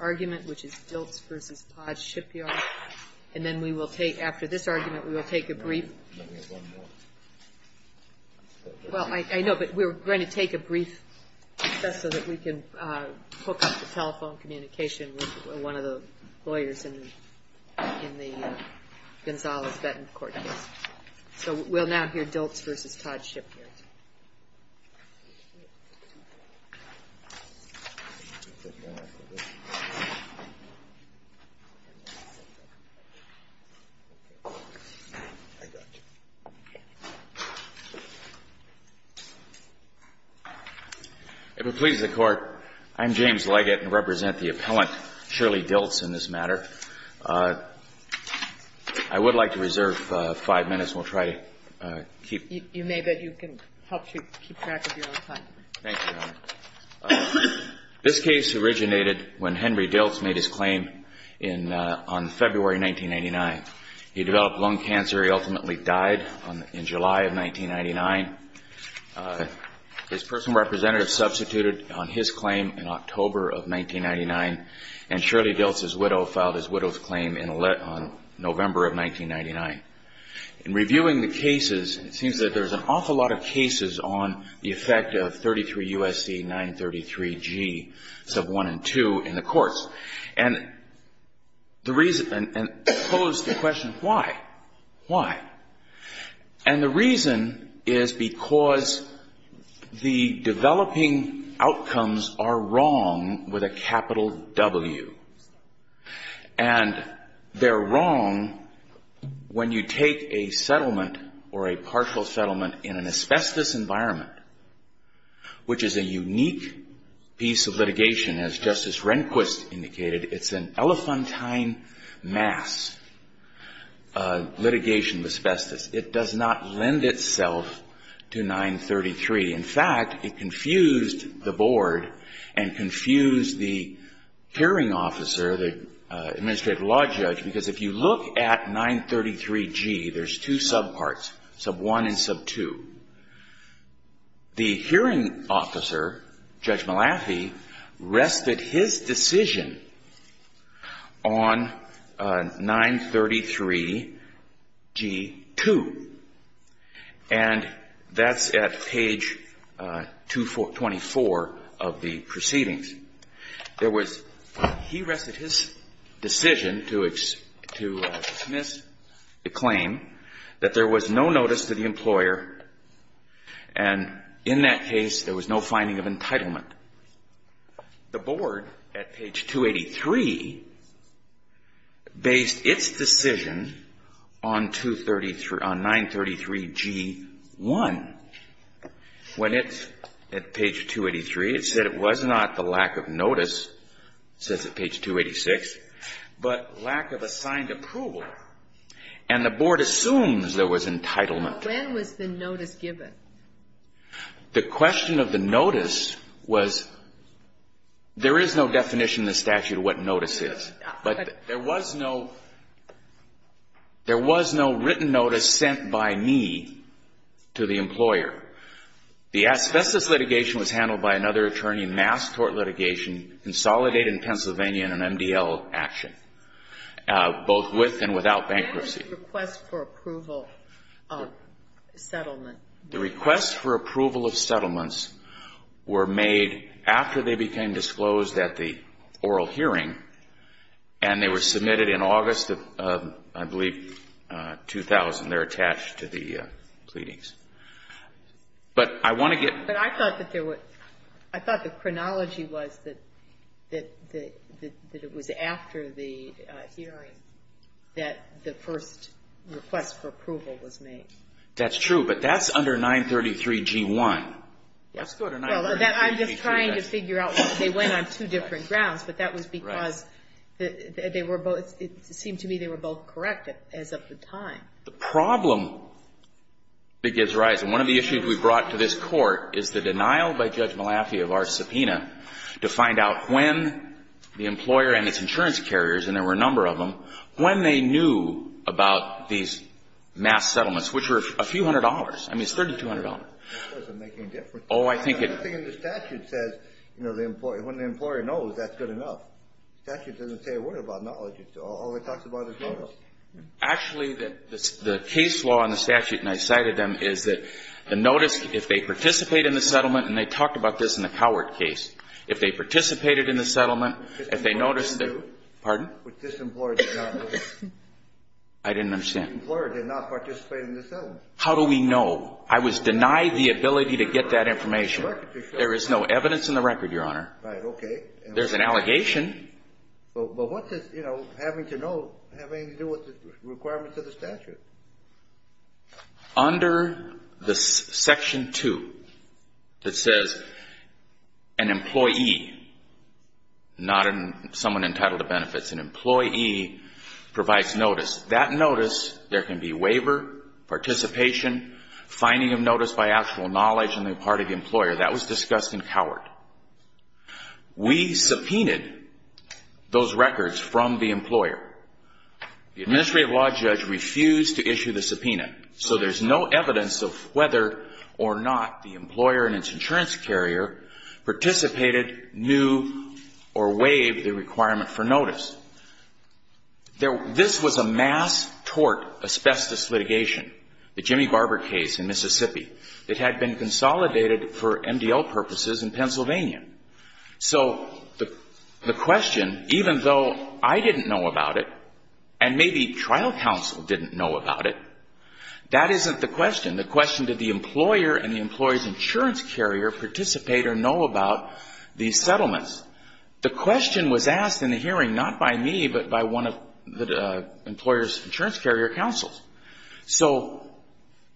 argument, which is Dilts v. Todd Shipyard. And then we will take, after this argument, we will take a brief. Let me have one more. Well, I know, but we're going to take a brief recess so that we can hook up the telephone communication with one of the lawyers in the Gonzales-Benton court case. So we'll now hear Dilts v. Todd Shipyard. If it pleases the Court, I'm James Leggett and represent the appellant, Shirley Dilts, in this matter. I would like to reserve five minutes and we'll try to keep You may, but you can help to keep track of your own time. Thank you, Your Honor. This case originated when Henry Dilts made his claim on February 1999. He developed lung cancer. He ultimately died in July of 1999. His personal representative substituted on his claim in October of 1999, and Shirley Dilts' widow filed his widow's claim in November of 1999. In reviewing the cases, it seems that there's an awful lot of cases on the effect of 33 U.S.C. 933G sub 1 and 2 in the courts. And the reason and pose the question, why? Why? And the reason is because the developing outcomes are wrong with a capital W. And they're wrong when you take a settlement or a partial settlement in an asbestos environment, which is a unique piece of litigation. As Justice Rehnquist indicated, it's an elephantine mass litigation of asbestos. It does not lend itself to 933. In fact, it confused the Board and confused the hearing officer, the administrative law judge, because if you look at 933G, there's two subparts, sub 1 and sub 2. The hearing officer, Judge Malafi, rested his decision on 933G2. And that's at page 24 of the proceedings. There was he rested his decision to dismiss the claim that there was no notice to the employer, and in that case there was no finding of entitlement. The Board, at page 283, based its decision on 933G1. When it's at page 283, it said it was not the lack of notice, says at page 286, but lack of assigned approval. And the Board assumes there was entitlement. When was the notice given? The question of the notice was, there is no definition in the statute of what notice is. But there was no written notice sent by me to the employer. The asbestos litigation was handled by another attorney, mass court litigation, consolidated in Pennsylvania in an MDL action, both with and without bankruptcy. What was the request for approval of settlement? The request for approval of settlements were made after they became disclosed at the oral hearing, and they were submitted in August of, I believe, 2000. They're attached to the pleadings. But I want to get But I thought that there was – I thought the chronology was that it was after the hearing that the first request for approval was made. That's true. But that's under 933G1. That's still under 933G2. Well, I'm just trying to figure out why they went on two different grounds, but that was because they were both – it seemed to me they were both correct as of the time. The problem that gives rise – and one of the issues we brought to this Court is the denial by Judge Malafie of our subpoena to find out when the employer and its insurance carriers, and there were a number of them, when they knew about these mass settlements, which were a few hundred dollars. I mean, it's $3,200. That doesn't make any difference. Oh, I think it – I think the statute says, you know, when the employer knows, that's good enough. The statute doesn't say a word about knowledge. It only talks about the total. Actually, the case law in the statute, and I cited them, is that the notice, if they participate in the settlement – and they talked about this in the Cowart case – if they participated in the settlement, if they noticed that – Which this employer did not know. I didn't understand. Which this employer did not participate in the settlement. How do we know? I was denied the ability to get that information. There is no evidence in the record, Your Honor. Right. Okay. There's an allegation. But what does, you know, having to know have anything to do with the requirements of the statute? Under the Section 2, it says an employee, not someone entitled to benefits, an employee provides notice. That notice, there can be waiver, participation, finding of notice by actual knowledge on the part of the employer. That was discussed in Cowart. We subpoenaed those records from the employer. The administrative law judge refused to issue the subpoena. So there's no evidence of whether or not the employer and its insurance carrier participated, knew, or waived the requirement for notice. This was a mass tort asbestos litigation, the Jimmy Barber case in Mississippi. It had been consolidated for MDL purposes in Pennsylvania. So the question, even though I didn't know about it, and maybe trial counsel didn't know about it, that isn't the question. The question, did the employer and the employer's insurance carrier participate or know about these settlements? The question was asked in the hearing not by me, but by one of the employer's insurance carrier counsels. So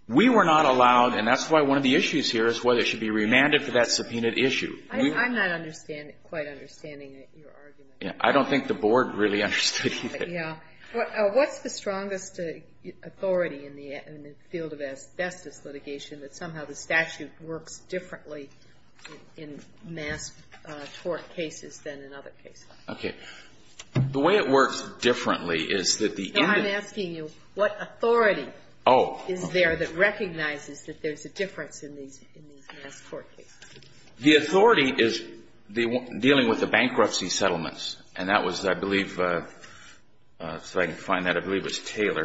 we were not allowed, and that's why one of the issues here is whether it should be remanded for that subpoenaed issue. I'm not understanding, quite understanding your argument. I don't think the Board really understood either. Yeah. What's the strongest authority in the field of asbestos litigation that somehow the statute works differently in mass tort cases than in other cases? Okay. The way it works differently is that the individual is asking you what authority is there that recognizes that there's a difference in these mass tort cases. The authority is dealing with the bankruptcy settlements. And that was, I believe, so I can find that, I believe it was Taylor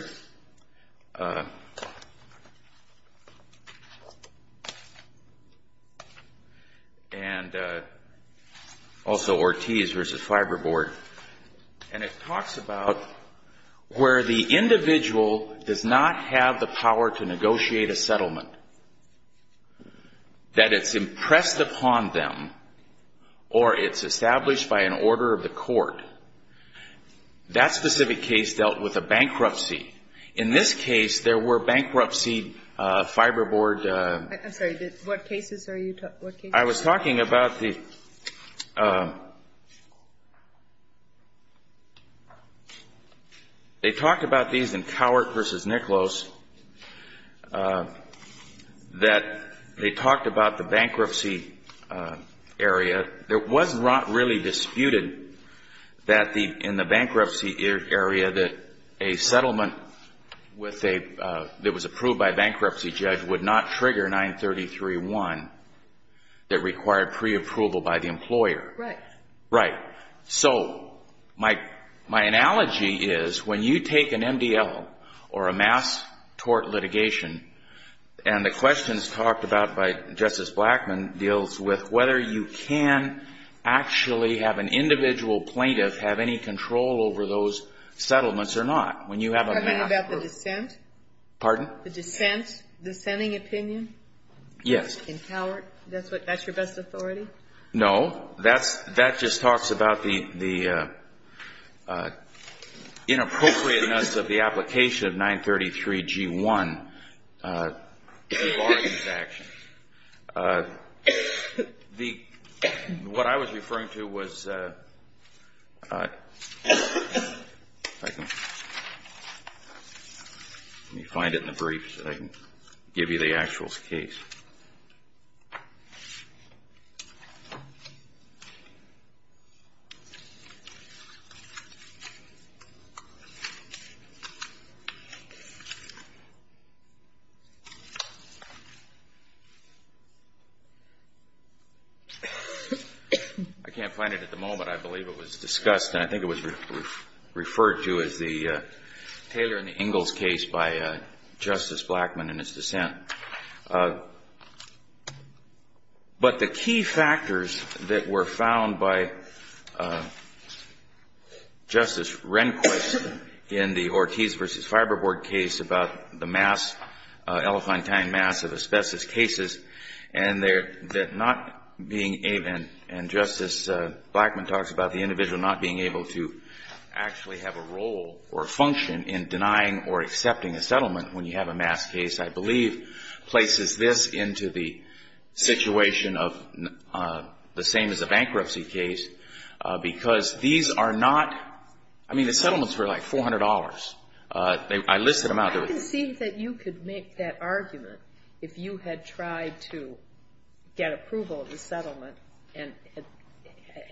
and also Ortiz v. Fiberboard. And it talks about where the individual does not have the power to negotiate a settlement, that it's impressed upon them or it's established by an order of the court. That specific case dealt with a bankruptcy. In this case, there were bankruptcy Fiberboard. I'm sorry. What cases are you talking about? I was talking about the they talked about these in Cowart v. Niklos that they talked about the bankruptcy area. There was not really disputed that in the bankruptcy area that a settlement that was approved by a bankruptcy judge would not trigger 933-1 that required preapproval by the employer. Right. Right. So my analogy is when you take an MDL or a mass tort litigation, and the questions talked about by Justice Blackmun deals with whether you can actually have an individual plaintiff have any control over those settlements or not. Talking about the dissent? Pardon? The dissent, dissenting opinion? Yes. In Cowart, that's your best authority? No. That just talks about the inappropriateness of the application of 933-G-1 bargains action. What I was referring to was let me find it in the briefs so I can give you the actual case. I can't find it at the moment. I believe it was discussed, and I think it was referred to as the Taylor and the Ingalls case by Justice Blackmun and his dissent. But the key factors that were found by Justice Rehnquist in the Ortiz v. Fiberboard case about the mass, Elephantine mass of asbestos cases, and that not being even, and Justice Blackmun talks about the individual not being able to actually have a role or function in denying or accepting a settlement when you have a mass case, I believe places this into the situation of the same as a bankruptcy case, because these are not, I mean, the settlements were like $400. I listed them out. I can see that you could make that argument if you had tried to get approval of the settlement and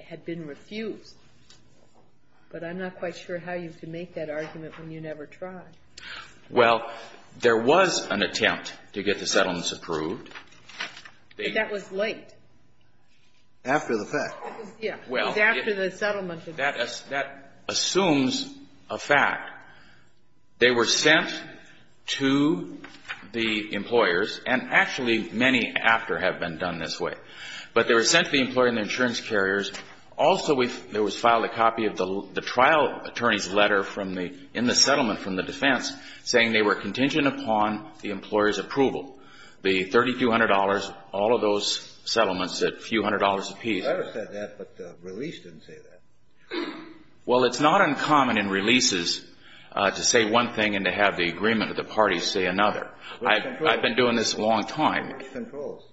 had been refused. But I'm not quite sure how you could make that argument when you never tried. Well, there was an attempt to get the settlements approved. But that was late. After the fact. Well, that assumes a fact. They were sent to the employers, and actually many after have been done this way. But they were sent to the employer and the insurance carriers. Also, there was filed a copy of the trial attorney's letter in the settlement from the defense saying they were contingent upon the employer's approval. The $3,200, all of those settlements at a few hundred dollars apiece. The letter said that, but the release didn't say that. Well, it's not uncommon in releases to say one thing and to have the agreement of the parties say another. I've been doing this a long time. What controls?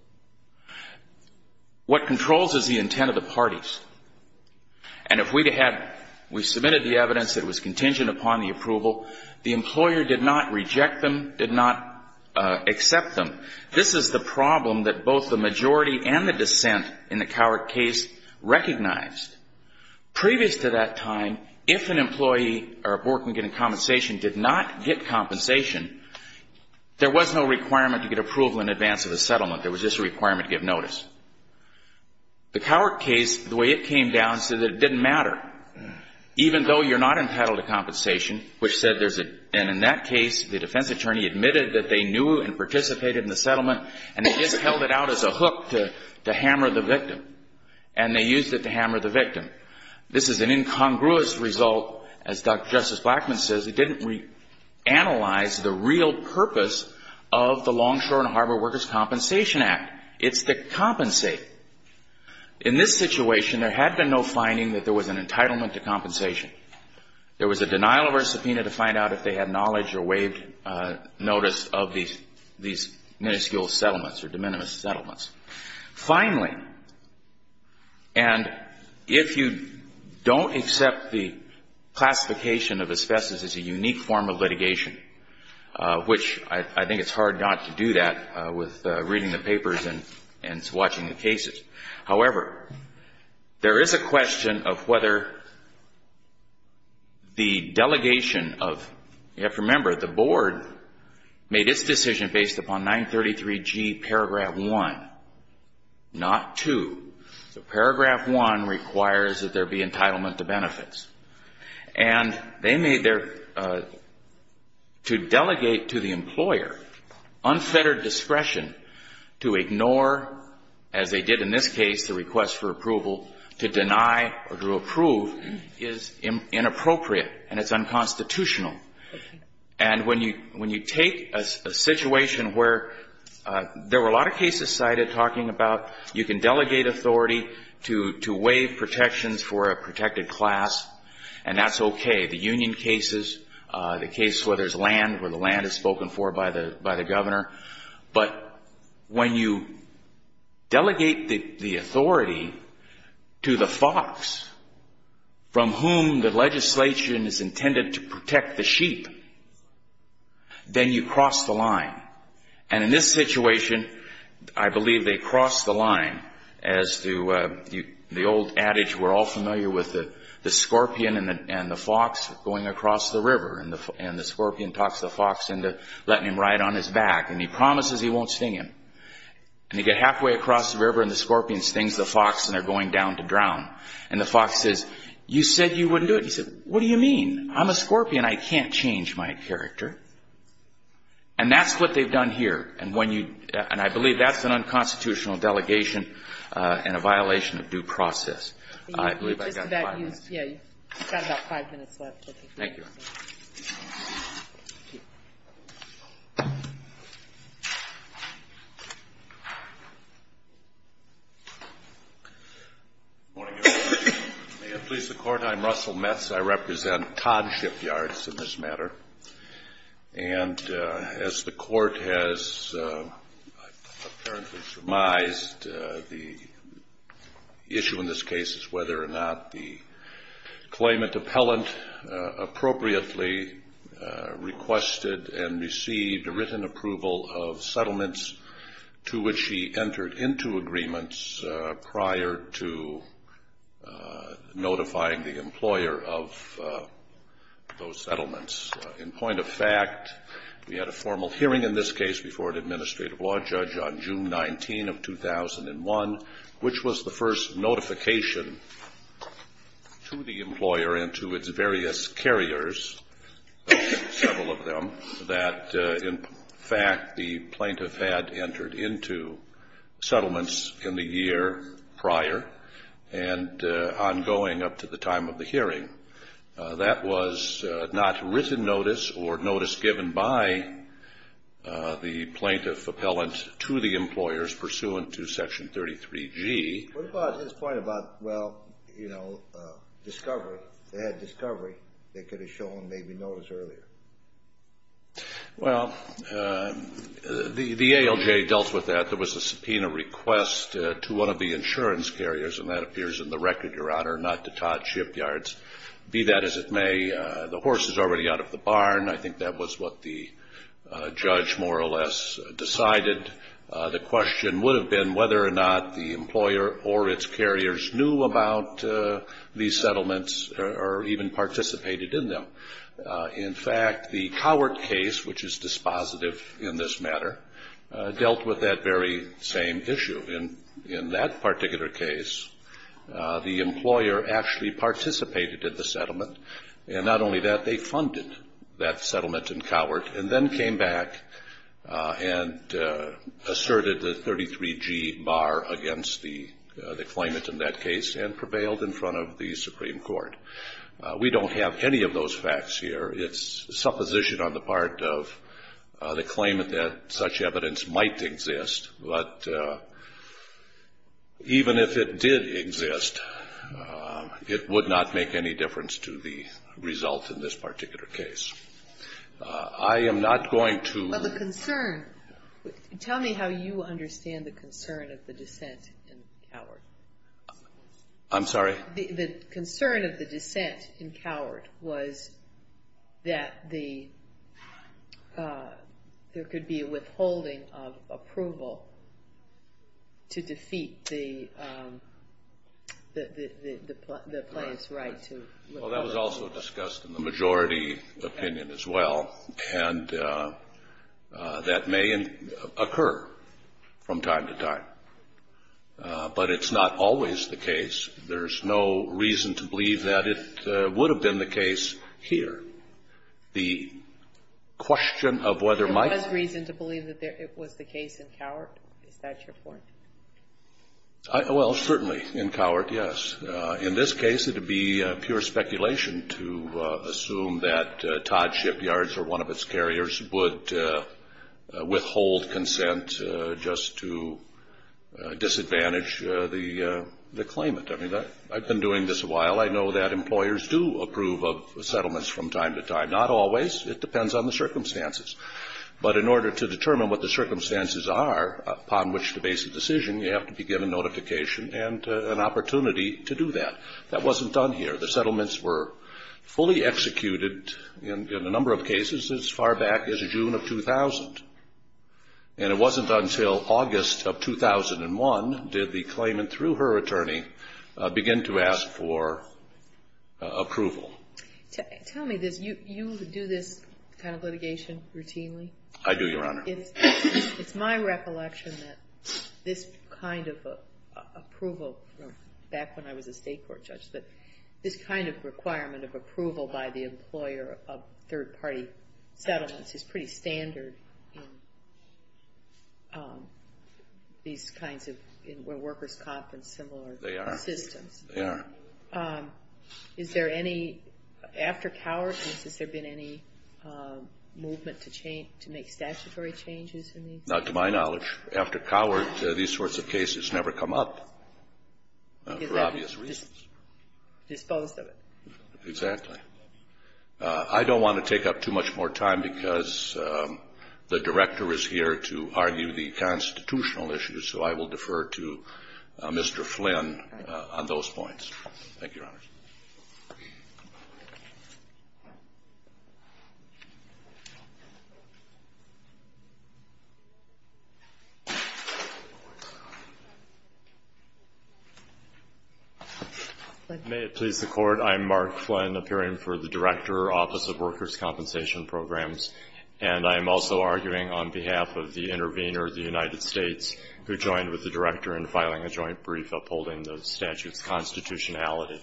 What controls is the intent of the parties. And if we had we submitted the evidence that was contingent upon the approval, the employer did not reject them, did not accept them. This is the problem that both the majority and the dissent in the Cowork case recognized. Previous to that time, if an employee or a board can get a compensation, did not get compensation, there was no requirement to get approval in advance of a settlement. There was just a requirement to give notice. The Cowork case, the way it came down, said that it didn't matter. Even though you're not entitled to compensation, which said there's a, and in that case, the defense attorney admitted that they knew and participated in the settlement and they just held it out as a hook to hammer the victim. And they used it to hammer the victim. This is an incongruous result. As Justice Blackmun says, it didn't reanalyze the real purpose of the Longshore and Harbor Workers' Compensation Act. It's to compensate. In this situation, there had been no finding that there was an entitlement to compensation. There was a denial of a subpoena to find out if they had knowledge or waived notice of these minuscule settlements or de minimis settlements. Finally, and if you don't accept the classification of asbestos as a unique form of litigation, which I think it's hard not to do that with reading the papers and watching the cases. However, there is a question of whether the delegation of, you have to remember the board made its decision based upon 933G paragraph 1, not 2. So paragraph 1 requires that there be entitlement to benefits. And they made their, to delegate to the employer unfettered discretion to ignore, as they did in this case, the request for approval, to deny or to approve is inappropriate and it's unconstitutional. And when you take a situation where there were a lot of cases cited talking about you can delegate authority to waive protections for a protected class, and that's okay. The union cases, the case where there's land, where the land is spoken for by the governor. But when you delegate the authority to the fox, from whom the legislation is intended to protect the sheep, then you cross the line. And in this situation, I believe they crossed the line as to the old adage we're all familiar with, the scorpion and the fox going across the river. And the scorpion talks the fox into letting him ride on his back. And he promises he won't sting him. And you get halfway across the river and the scorpion stings the fox and they're going down to drown. And the fox says, you said you wouldn't do it. He said, what do you mean? I'm a scorpion. I can't change my character. And that's what they've done here. And when you, and I believe that's an unconstitutional delegation and a violation of due process. I believe I got five minutes. Yeah, you've got about five minutes left. Thank you. May it please the Court, I'm Russell Metz. I represent Todd Shipyards in this matter. And as the Court has apparently surmised, the issue in this case is whether or not the claimant appellant appropriately requested and received a written approval of settlements to which he entered into agreements prior to notifying the employer of those settlements. In point of fact, we had a formal hearing in this case before an administrative law judge on June 19 of 2001, which was the first notification to the employer and to its various carriers, several of them, that in fact the plaintiff had entered into settlements in the year prior and ongoing up to the time of the hearing. That was not written notice or notice given by the plaintiff appellant to the employers pursuant to Section 33G. What about his point about, well, you know, discovery? They could have shown maybe notice earlier. Well, the ALJ dealt with that. There was a subpoena request to one of the insurance carriers, and that appears in the record, Your Honor, not to Todd Shipyards. Be that as it may, the horse is already out of the barn. I think that was what the judge more or less decided. The question would have been whether or not the employer or its carriers knew about these settlements or even participated in them. In fact, the Cowart case, which is dispositive in this matter, dealt with that very same issue. In that particular case, the employer actually participated in the settlement, and not only that, they funded that settlement in Cowart and then came back and asserted the 33G bar against the claimant in that case and prevailed in front of the Supreme Court. We don't have any of those facts here. It's supposition on the part of the claimant that such evidence might exist, but even if it did exist, it would not make any difference to the result in this particular case. I am not going to. But the concern. Tell me how you understand the concern of the dissent in Cowart. I'm sorry? The concern of the dissent in Cowart was that there could be a withholding of approval to defeat the claimant's right to withhold. Well, that was also discussed in the majority opinion as well, and that may occur from time to time. But it's not always the case. There's no reason to believe that it would have been the case here. The question of whether Mike's ---- There was reason to believe that it was the case in Cowart. Is that your point? Well, certainly in Cowart, yes. In this case, it would be pure speculation to assume that Todd Shipyards or one of its carriers would withhold consent just to disadvantage the claimant. I mean, I've been doing this a while. I know that employers do approve of settlements from time to time. Not always. It depends on the circumstances. But in order to determine what the circumstances are upon which to base a decision, you have to be given notification and an opportunity to do that. That wasn't done here. The settlements were fully executed in a number of cases as far back as June of 2000. And it wasn't until August of 2001 did the claimant, through her attorney, begin to ask for approval. Tell me this. You do this kind of litigation routinely? I do, Your Honor. It's my recollection that this kind of approval, back when I was a state court judge, but this kind of requirement of approval by the employer of third-party settlements is pretty standard in these kinds of where workers' comp and similar systems. They are. They are. Is there any, after Cowart, has there been any movement to make statutory changes in these? Not to my knowledge. After Cowart, these sorts of cases never come up for obvious reasons. Disposed of it. Exactly. I don't want to take up too much more time because the Director is here to argue the constitutional issues, so I will defer to Mr. Flynn on those points. Thank you, Your Honor. Thank you, Your Honor. May it please the Court, I am Mark Flynn, appearing for the Director, Office of Workers' Compensation Programs, and I am also arguing on behalf of the intervener, the United States, who joined with the Director in filing a joint brief upholding the statute's constitutionality.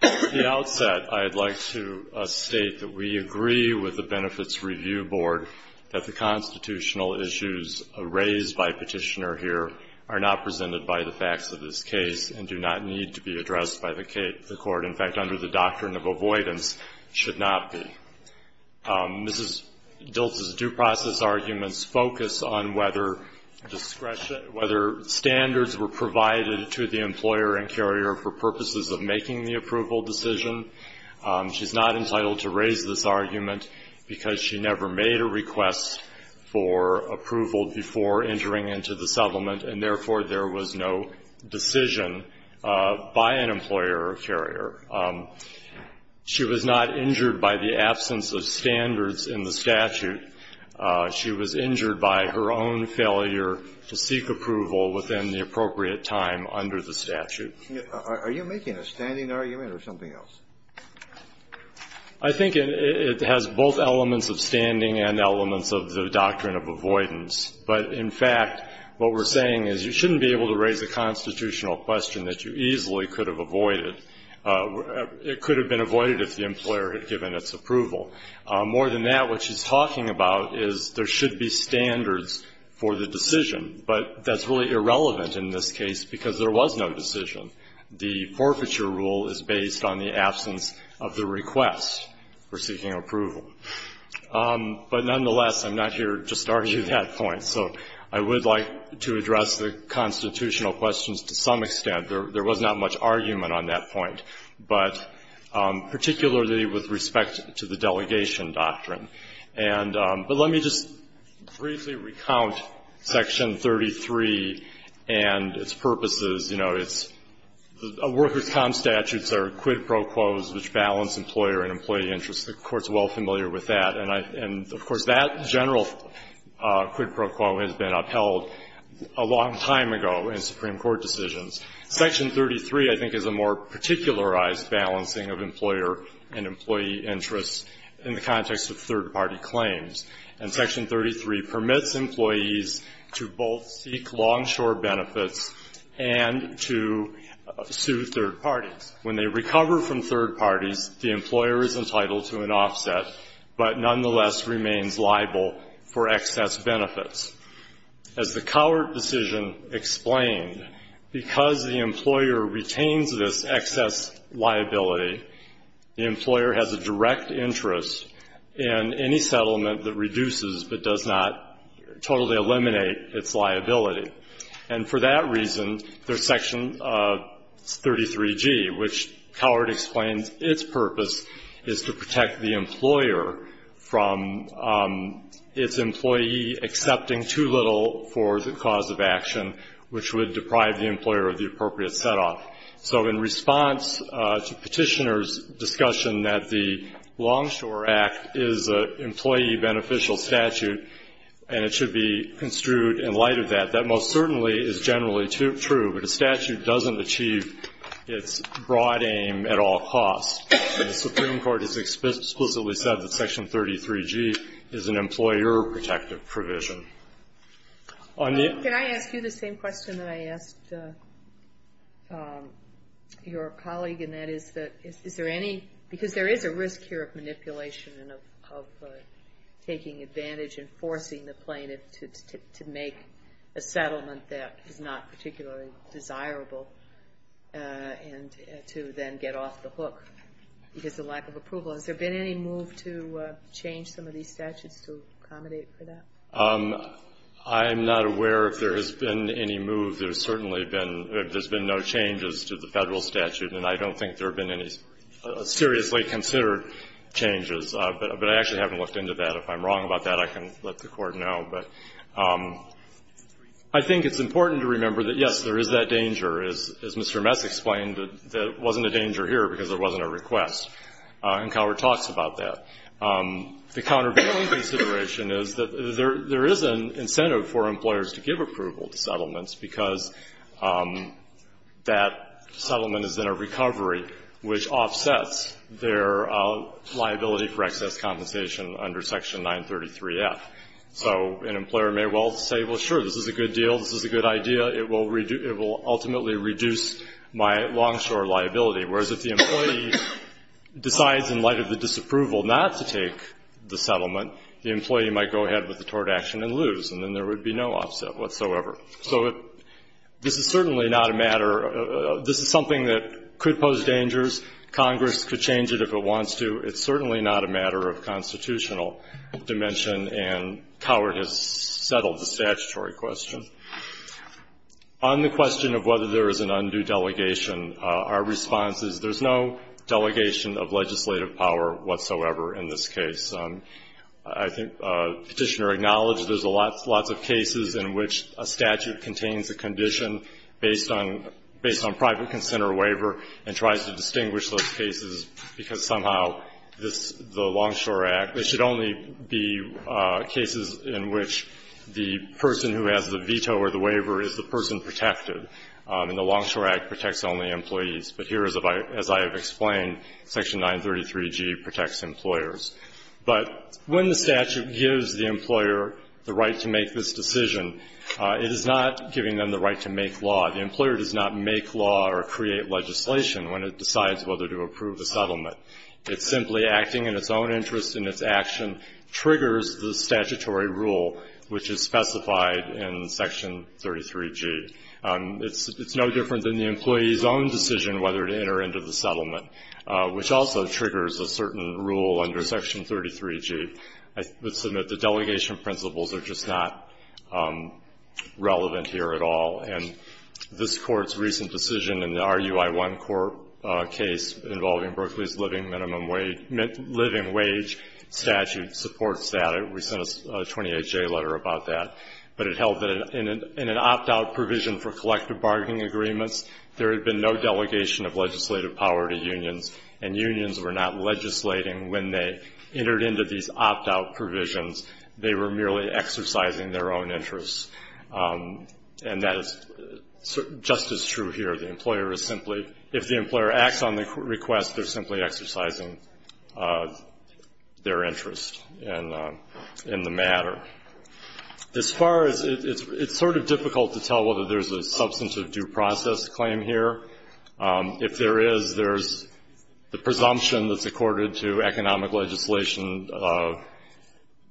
At the outset, I would like to state that we agree with the Benefits Review Board that the constitutional issues raised by Petitioner here are not presented by the facts of this case and do not need to be addressed by the Court. In fact, under the doctrine of avoidance, should not be. Mrs. Diltz's due process arguments focus on whether standards were provided to the employer and carrier for purposes of making the approval decision. She's not entitled to raise this argument because she never made a request for approval before entering into the settlement, and therefore there was no decision by an employer or carrier. She was not injured by the absence of standards in the statute. She was injured by her own failure to seek approval within the appropriate time under the statute. Are you making a standing argument or something else? I think it has both elements of standing and elements of the doctrine of avoidance. But, in fact, what we're saying is you shouldn't be able to raise a constitutional question that you easily could have avoided. It could have been avoided if the employer had given its approval. More than that, what she's talking about is there should be standards for the decision, but that's really irrelevant in this case because there was no decision. The forfeiture rule is based on the absence of the request for seeking approval. But, nonetheless, I'm not here just to argue that point. So I would like to address the constitutional questions to some extent. There was not much argument on that point. But particularly with respect to the delegation doctrine. But let me just briefly recount Section 33 and its purposes. You know, it's the workers' comp statutes are quid pro quos, which balance employer and employee interests. The Court's well familiar with that. And, of course, that general quid pro quo has been upheld a long time ago in Supreme Court decisions. Section 33, I think, is a more particularized balancing of employer and employee interests in the context of third-party claims. And Section 33 permits employees to both seek longshore benefits and to sue third parties. When they recover from third parties, the employer is entitled to an offset, but nonetheless remains liable for excess benefits. As the Cowart decision explained, because the employer retains this excess liability, the employer has a direct interest in any settlement that reduces but does not totally eliminate its liability. And for that reason, there's Section 33G, which Cowart explains its purpose is to protect the employer from its employee accepting too little for the cause of action, which would deprive the employer of the appropriate set-off. So in response to Petitioner's discussion that the Longshore Act is an employee beneficial statute and it should be construed in light of that, that most certainly is generally true. But a statute doesn't achieve its broad aim at all costs. And the Supreme Court has explicitly said that Section 33G is an employer protective provision. Can I ask you the same question that I asked your colleague? And that is, is there any ñ because there is a risk here of manipulation and of taking advantage and forcing the plaintiff to make a settlement that is not particularly desirable and to then get off the hook because of lack of approval. Has there been any move to change some of these statutes to accommodate for that? I'm not aware if there has been any move. There's been no changes to the Federal statute, and I don't think there have been any seriously considered changes. But I actually haven't looked into that. If I'm wrong about that, I can let the Court know. But I think it's important to remember that, yes, there is that danger. As Mr. Mess explained, there wasn't a danger here because there wasn't a request. And Cowart talks about that. The countervailing consideration is that there is an incentive for employers to give approval to settlements because that settlement is in a recovery which offsets their liability for excess compensation under Section 933F. So an employer may well say, well, sure, this is a good deal, this is a good idea, it will ultimately reduce my longshore liability. Whereas if the employee decides in light of the disapproval not to take the settlement, the employee might go ahead with the tort action and lose, and then there would be no offset whatsoever. So this is certainly not a matter of this is something that could pose dangers. Congress could change it if it wants to. It's certainly not a matter of constitutional dimension, and Cowart has settled the statutory question. On the question of whether there is an undue delegation, our response is there's no delegation of legislative power whatsoever in this case. I think Petitioner acknowledged there's lots of cases in which a statute contains a condition based on private consent or waiver and tries to distinguish those cases because somehow this, the Longshore Act, it should only be cases in which the person who has the veto or the waiver is the person protected, and the Longshore Act protects only employees. But here, as I have explained, Section 933G protects employers. But when the statute gives the employer the right to make this decision, it is not giving them the right to make law. The employer does not make law or create legislation when it decides whether to approve a settlement. It's simply acting in its own interest and its action triggers the statutory rule, which is specified in Section 33G. It's no different than the employee's own decision whether to enter into the settlement, which also triggers a certain rule under Section 33G. I would submit the delegation principles are just not relevant here at all. And this Court's recent decision in the RUI-1 court case involving Berkeley's living wage statute supports that. We sent a 28-J letter about that. But it held that in an opt-out provision for collective bargaining agreements, there had been no delegation of legislative power to unions, and unions were not legislating when they entered into these opt-out provisions. They were merely exercising their own interests. And that is just as true here. The employer is simply, if the employer acts on the request, they're simply exercising their interest in the matter. As far as it's sort of difficult to tell whether there's a substantive due process claim here. If there is, there's the presumption that's accorded to economic legislation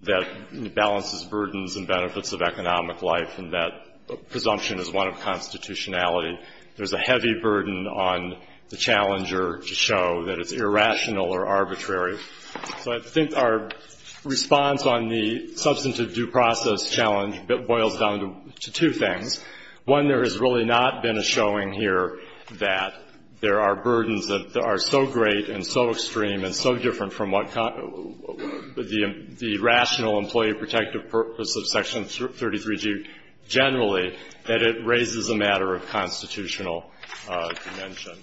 that balances burdens and benefits of economic life, and that presumption is one of constitutionality. There's a heavy burden on the challenger to show that it's irrational or arbitrary. So I think our response on the substantive due process challenge boils down to two things. One, there has really not been a showing here that there are burdens that are so great and so extreme and so different from what the rational, employee-protective purpose of Section 33G generally, that it raises a matter of constitutional dimension.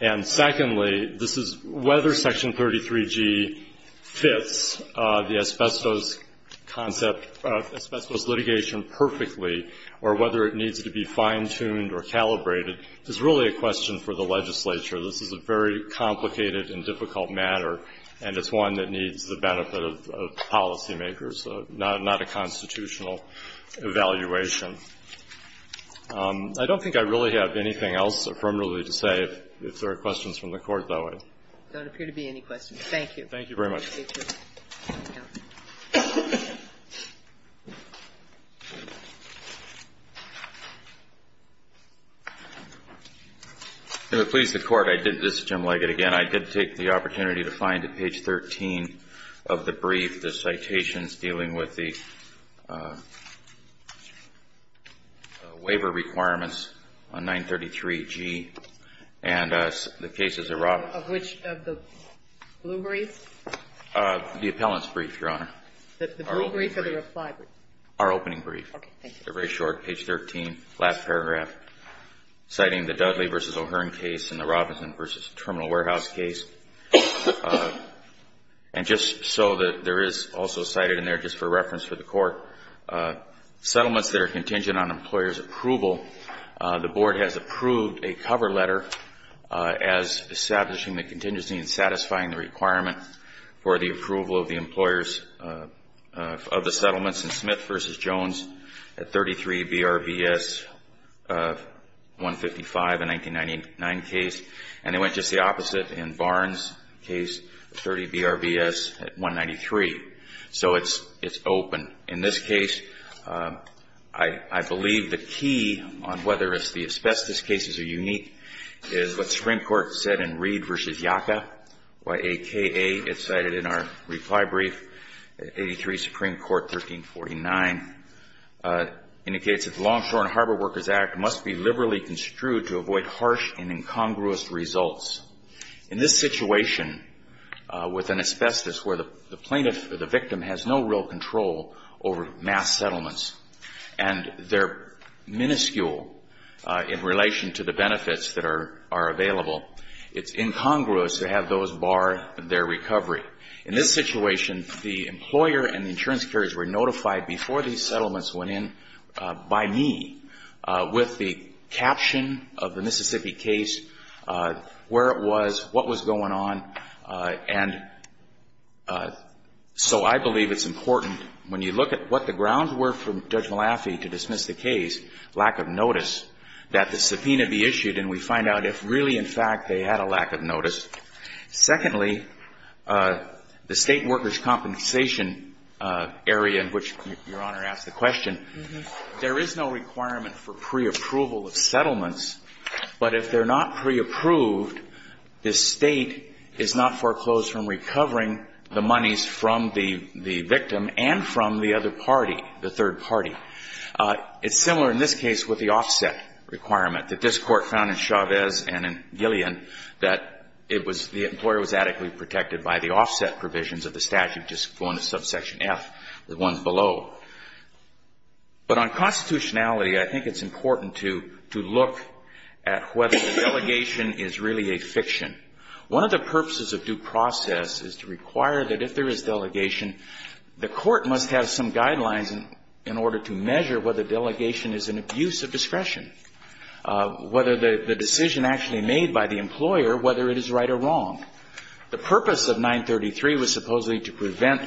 And secondly, this is whether Section 33G fits the asbestos concept, asbestos litigation perfectly, or whether it needs to be fine-tuned or calibrated, is really a question for the legislature. This is a very complicated and difficult matter, and it's one that needs the benefit of policymakers, not a constitutional evaluation. I don't think I really have anything else affirmatively to say. If there are questions from the Court, though, I don't appear to be any questions. Thank you. Thank you very much. If it pleases the Court, this is Jim Leggett again. I did take the opportunity to find, at page 13 of the brief, the citations dealing with the waiver requirements on 933G and the cases of Robinson. Of which? Of the blue brief? The appellant's brief, Your Honor. The blue brief or the reply brief? Our opening brief. Okay. Thank you. They're very short, page 13, last paragraph, citing the Dudley v. O'Hearn case and the And just so that there is also cited in there, just for reference for the Court, settlements that are contingent on employer's approval. The Board has approved a cover letter as establishing the contingency and satisfying the requirement for the approval of the employers of the settlements in Smith v. Jones at 33 BRBS 155, a 1999 case. And they went just the opposite in Barnes, case 30 BRBS at 193. So it's open. In this case, I believe the key on whether it's the asbestos cases are unique, is what the Supreme Court said in Reed v. Yaka, or AKA, as cited in our reply brief, 83 Supreme Court, 1349. It indicates that the Longshore and Harbor Workers Act must be liberally construed to avoid harsh and incongruous results. In this situation with an asbestos where the plaintiff or the victim has no real control over mass settlements and they're minuscule in relation to the benefits that are available, it's incongruous to have those bar their recovery. In this situation, the employer and the insurance carriers were notified before these settlements went in by me with the caption of the Mississippi case, where it was, what was going on. And so I believe it's important when you look at what the grounds were for Judge Malafi to dismiss the case, lack of notice, that the subpoena be issued and we find out if really, in fact, they had a lack of notice. Secondly, the State workers' compensation area in which Your Honor asked the question, there is no requirement for preapproval of settlements. But if they're not preapproved, the State is not foreclosed from recovering the monies from the victim and from the other party, the third party. It's similar in this case with the offset requirement that this Court found in Chavez and in Gillian that it was, the employer was adequately protected by the offset provisions of the statute, just going to subsection F, the ones below. But on constitutionality, I think it's important to look at whether the delegation is really a fiction. One of the purposes of due process is to require that if there is delegation, the Court must have some guidelines in order to measure whether delegation is an abuse of discretion, whether the decision actually made by the employer, whether it is right or wrong. The purpose of 933 was supposedly to prevent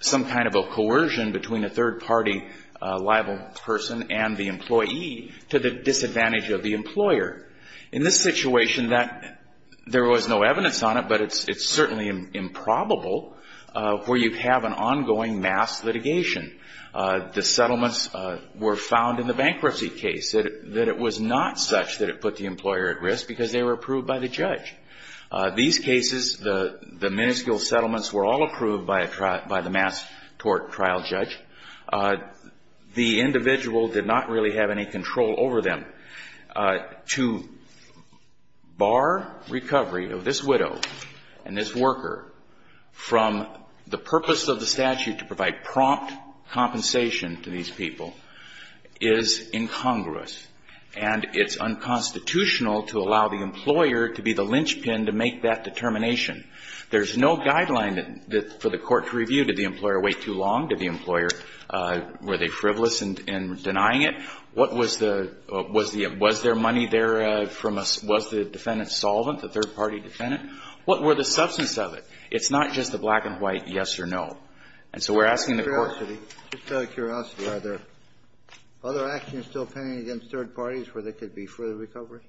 some kind of a coercion between a third party liable person and the employee to the disadvantage of the employer. In this situation, that, there was no evidence on it, but it's certainly improbable where you have an ongoing mass litigation. The settlements were found in the bankruptcy case, that it was not such that it put the employer at risk because they were approved by the judge. These cases, the minuscule settlements were all approved by a trial, by the mass court trial judge. The individual did not really have any control over them. To bar recovery of this widow and this worker from the purpose of the statute to provide prompt compensation to these people is incongruous. And it's unconstitutional to allow the employer to be the lynchpin to make that determination. There's no guideline for the court to review. Did the employer wait too long? Did the employer, were they frivolous in denying it? What was the, was there money there from, was the defendant solvent, the third party defendant? What were the substance of it? It's not just the black and white yes or no. And so we're asking the court to be. Kennedy. Just out of curiosity, are there other actions still pending against third parties where there could be further recovery?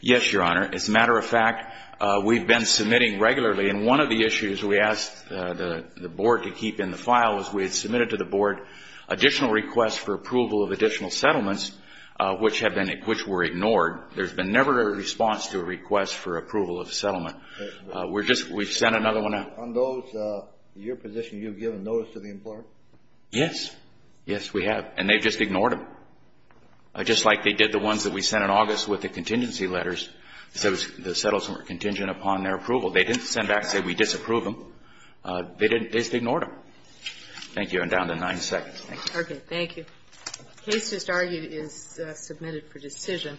Yes, Your Honor. As a matter of fact, we've been submitting regularly, and one of the issues we asked the Board to keep in the file is we had submitted to the Board additional requests for approval of additional settlements which have been, which were ignored. There's been never a response to a request for approval of a settlement. We're just, we've sent another one out. On those, your position, you've given notice to the employer? Yes. Yes, we have. And they've just ignored them. Just like they did the ones that we sent in August with the contingency letters. They said the settlements were contingent upon their approval. They didn't send back and say we disapprove them. They didn't, they just ignored them. Thank you. I'm down to nine seconds. Thank you. Thank you. The case just argued is submitted for decision.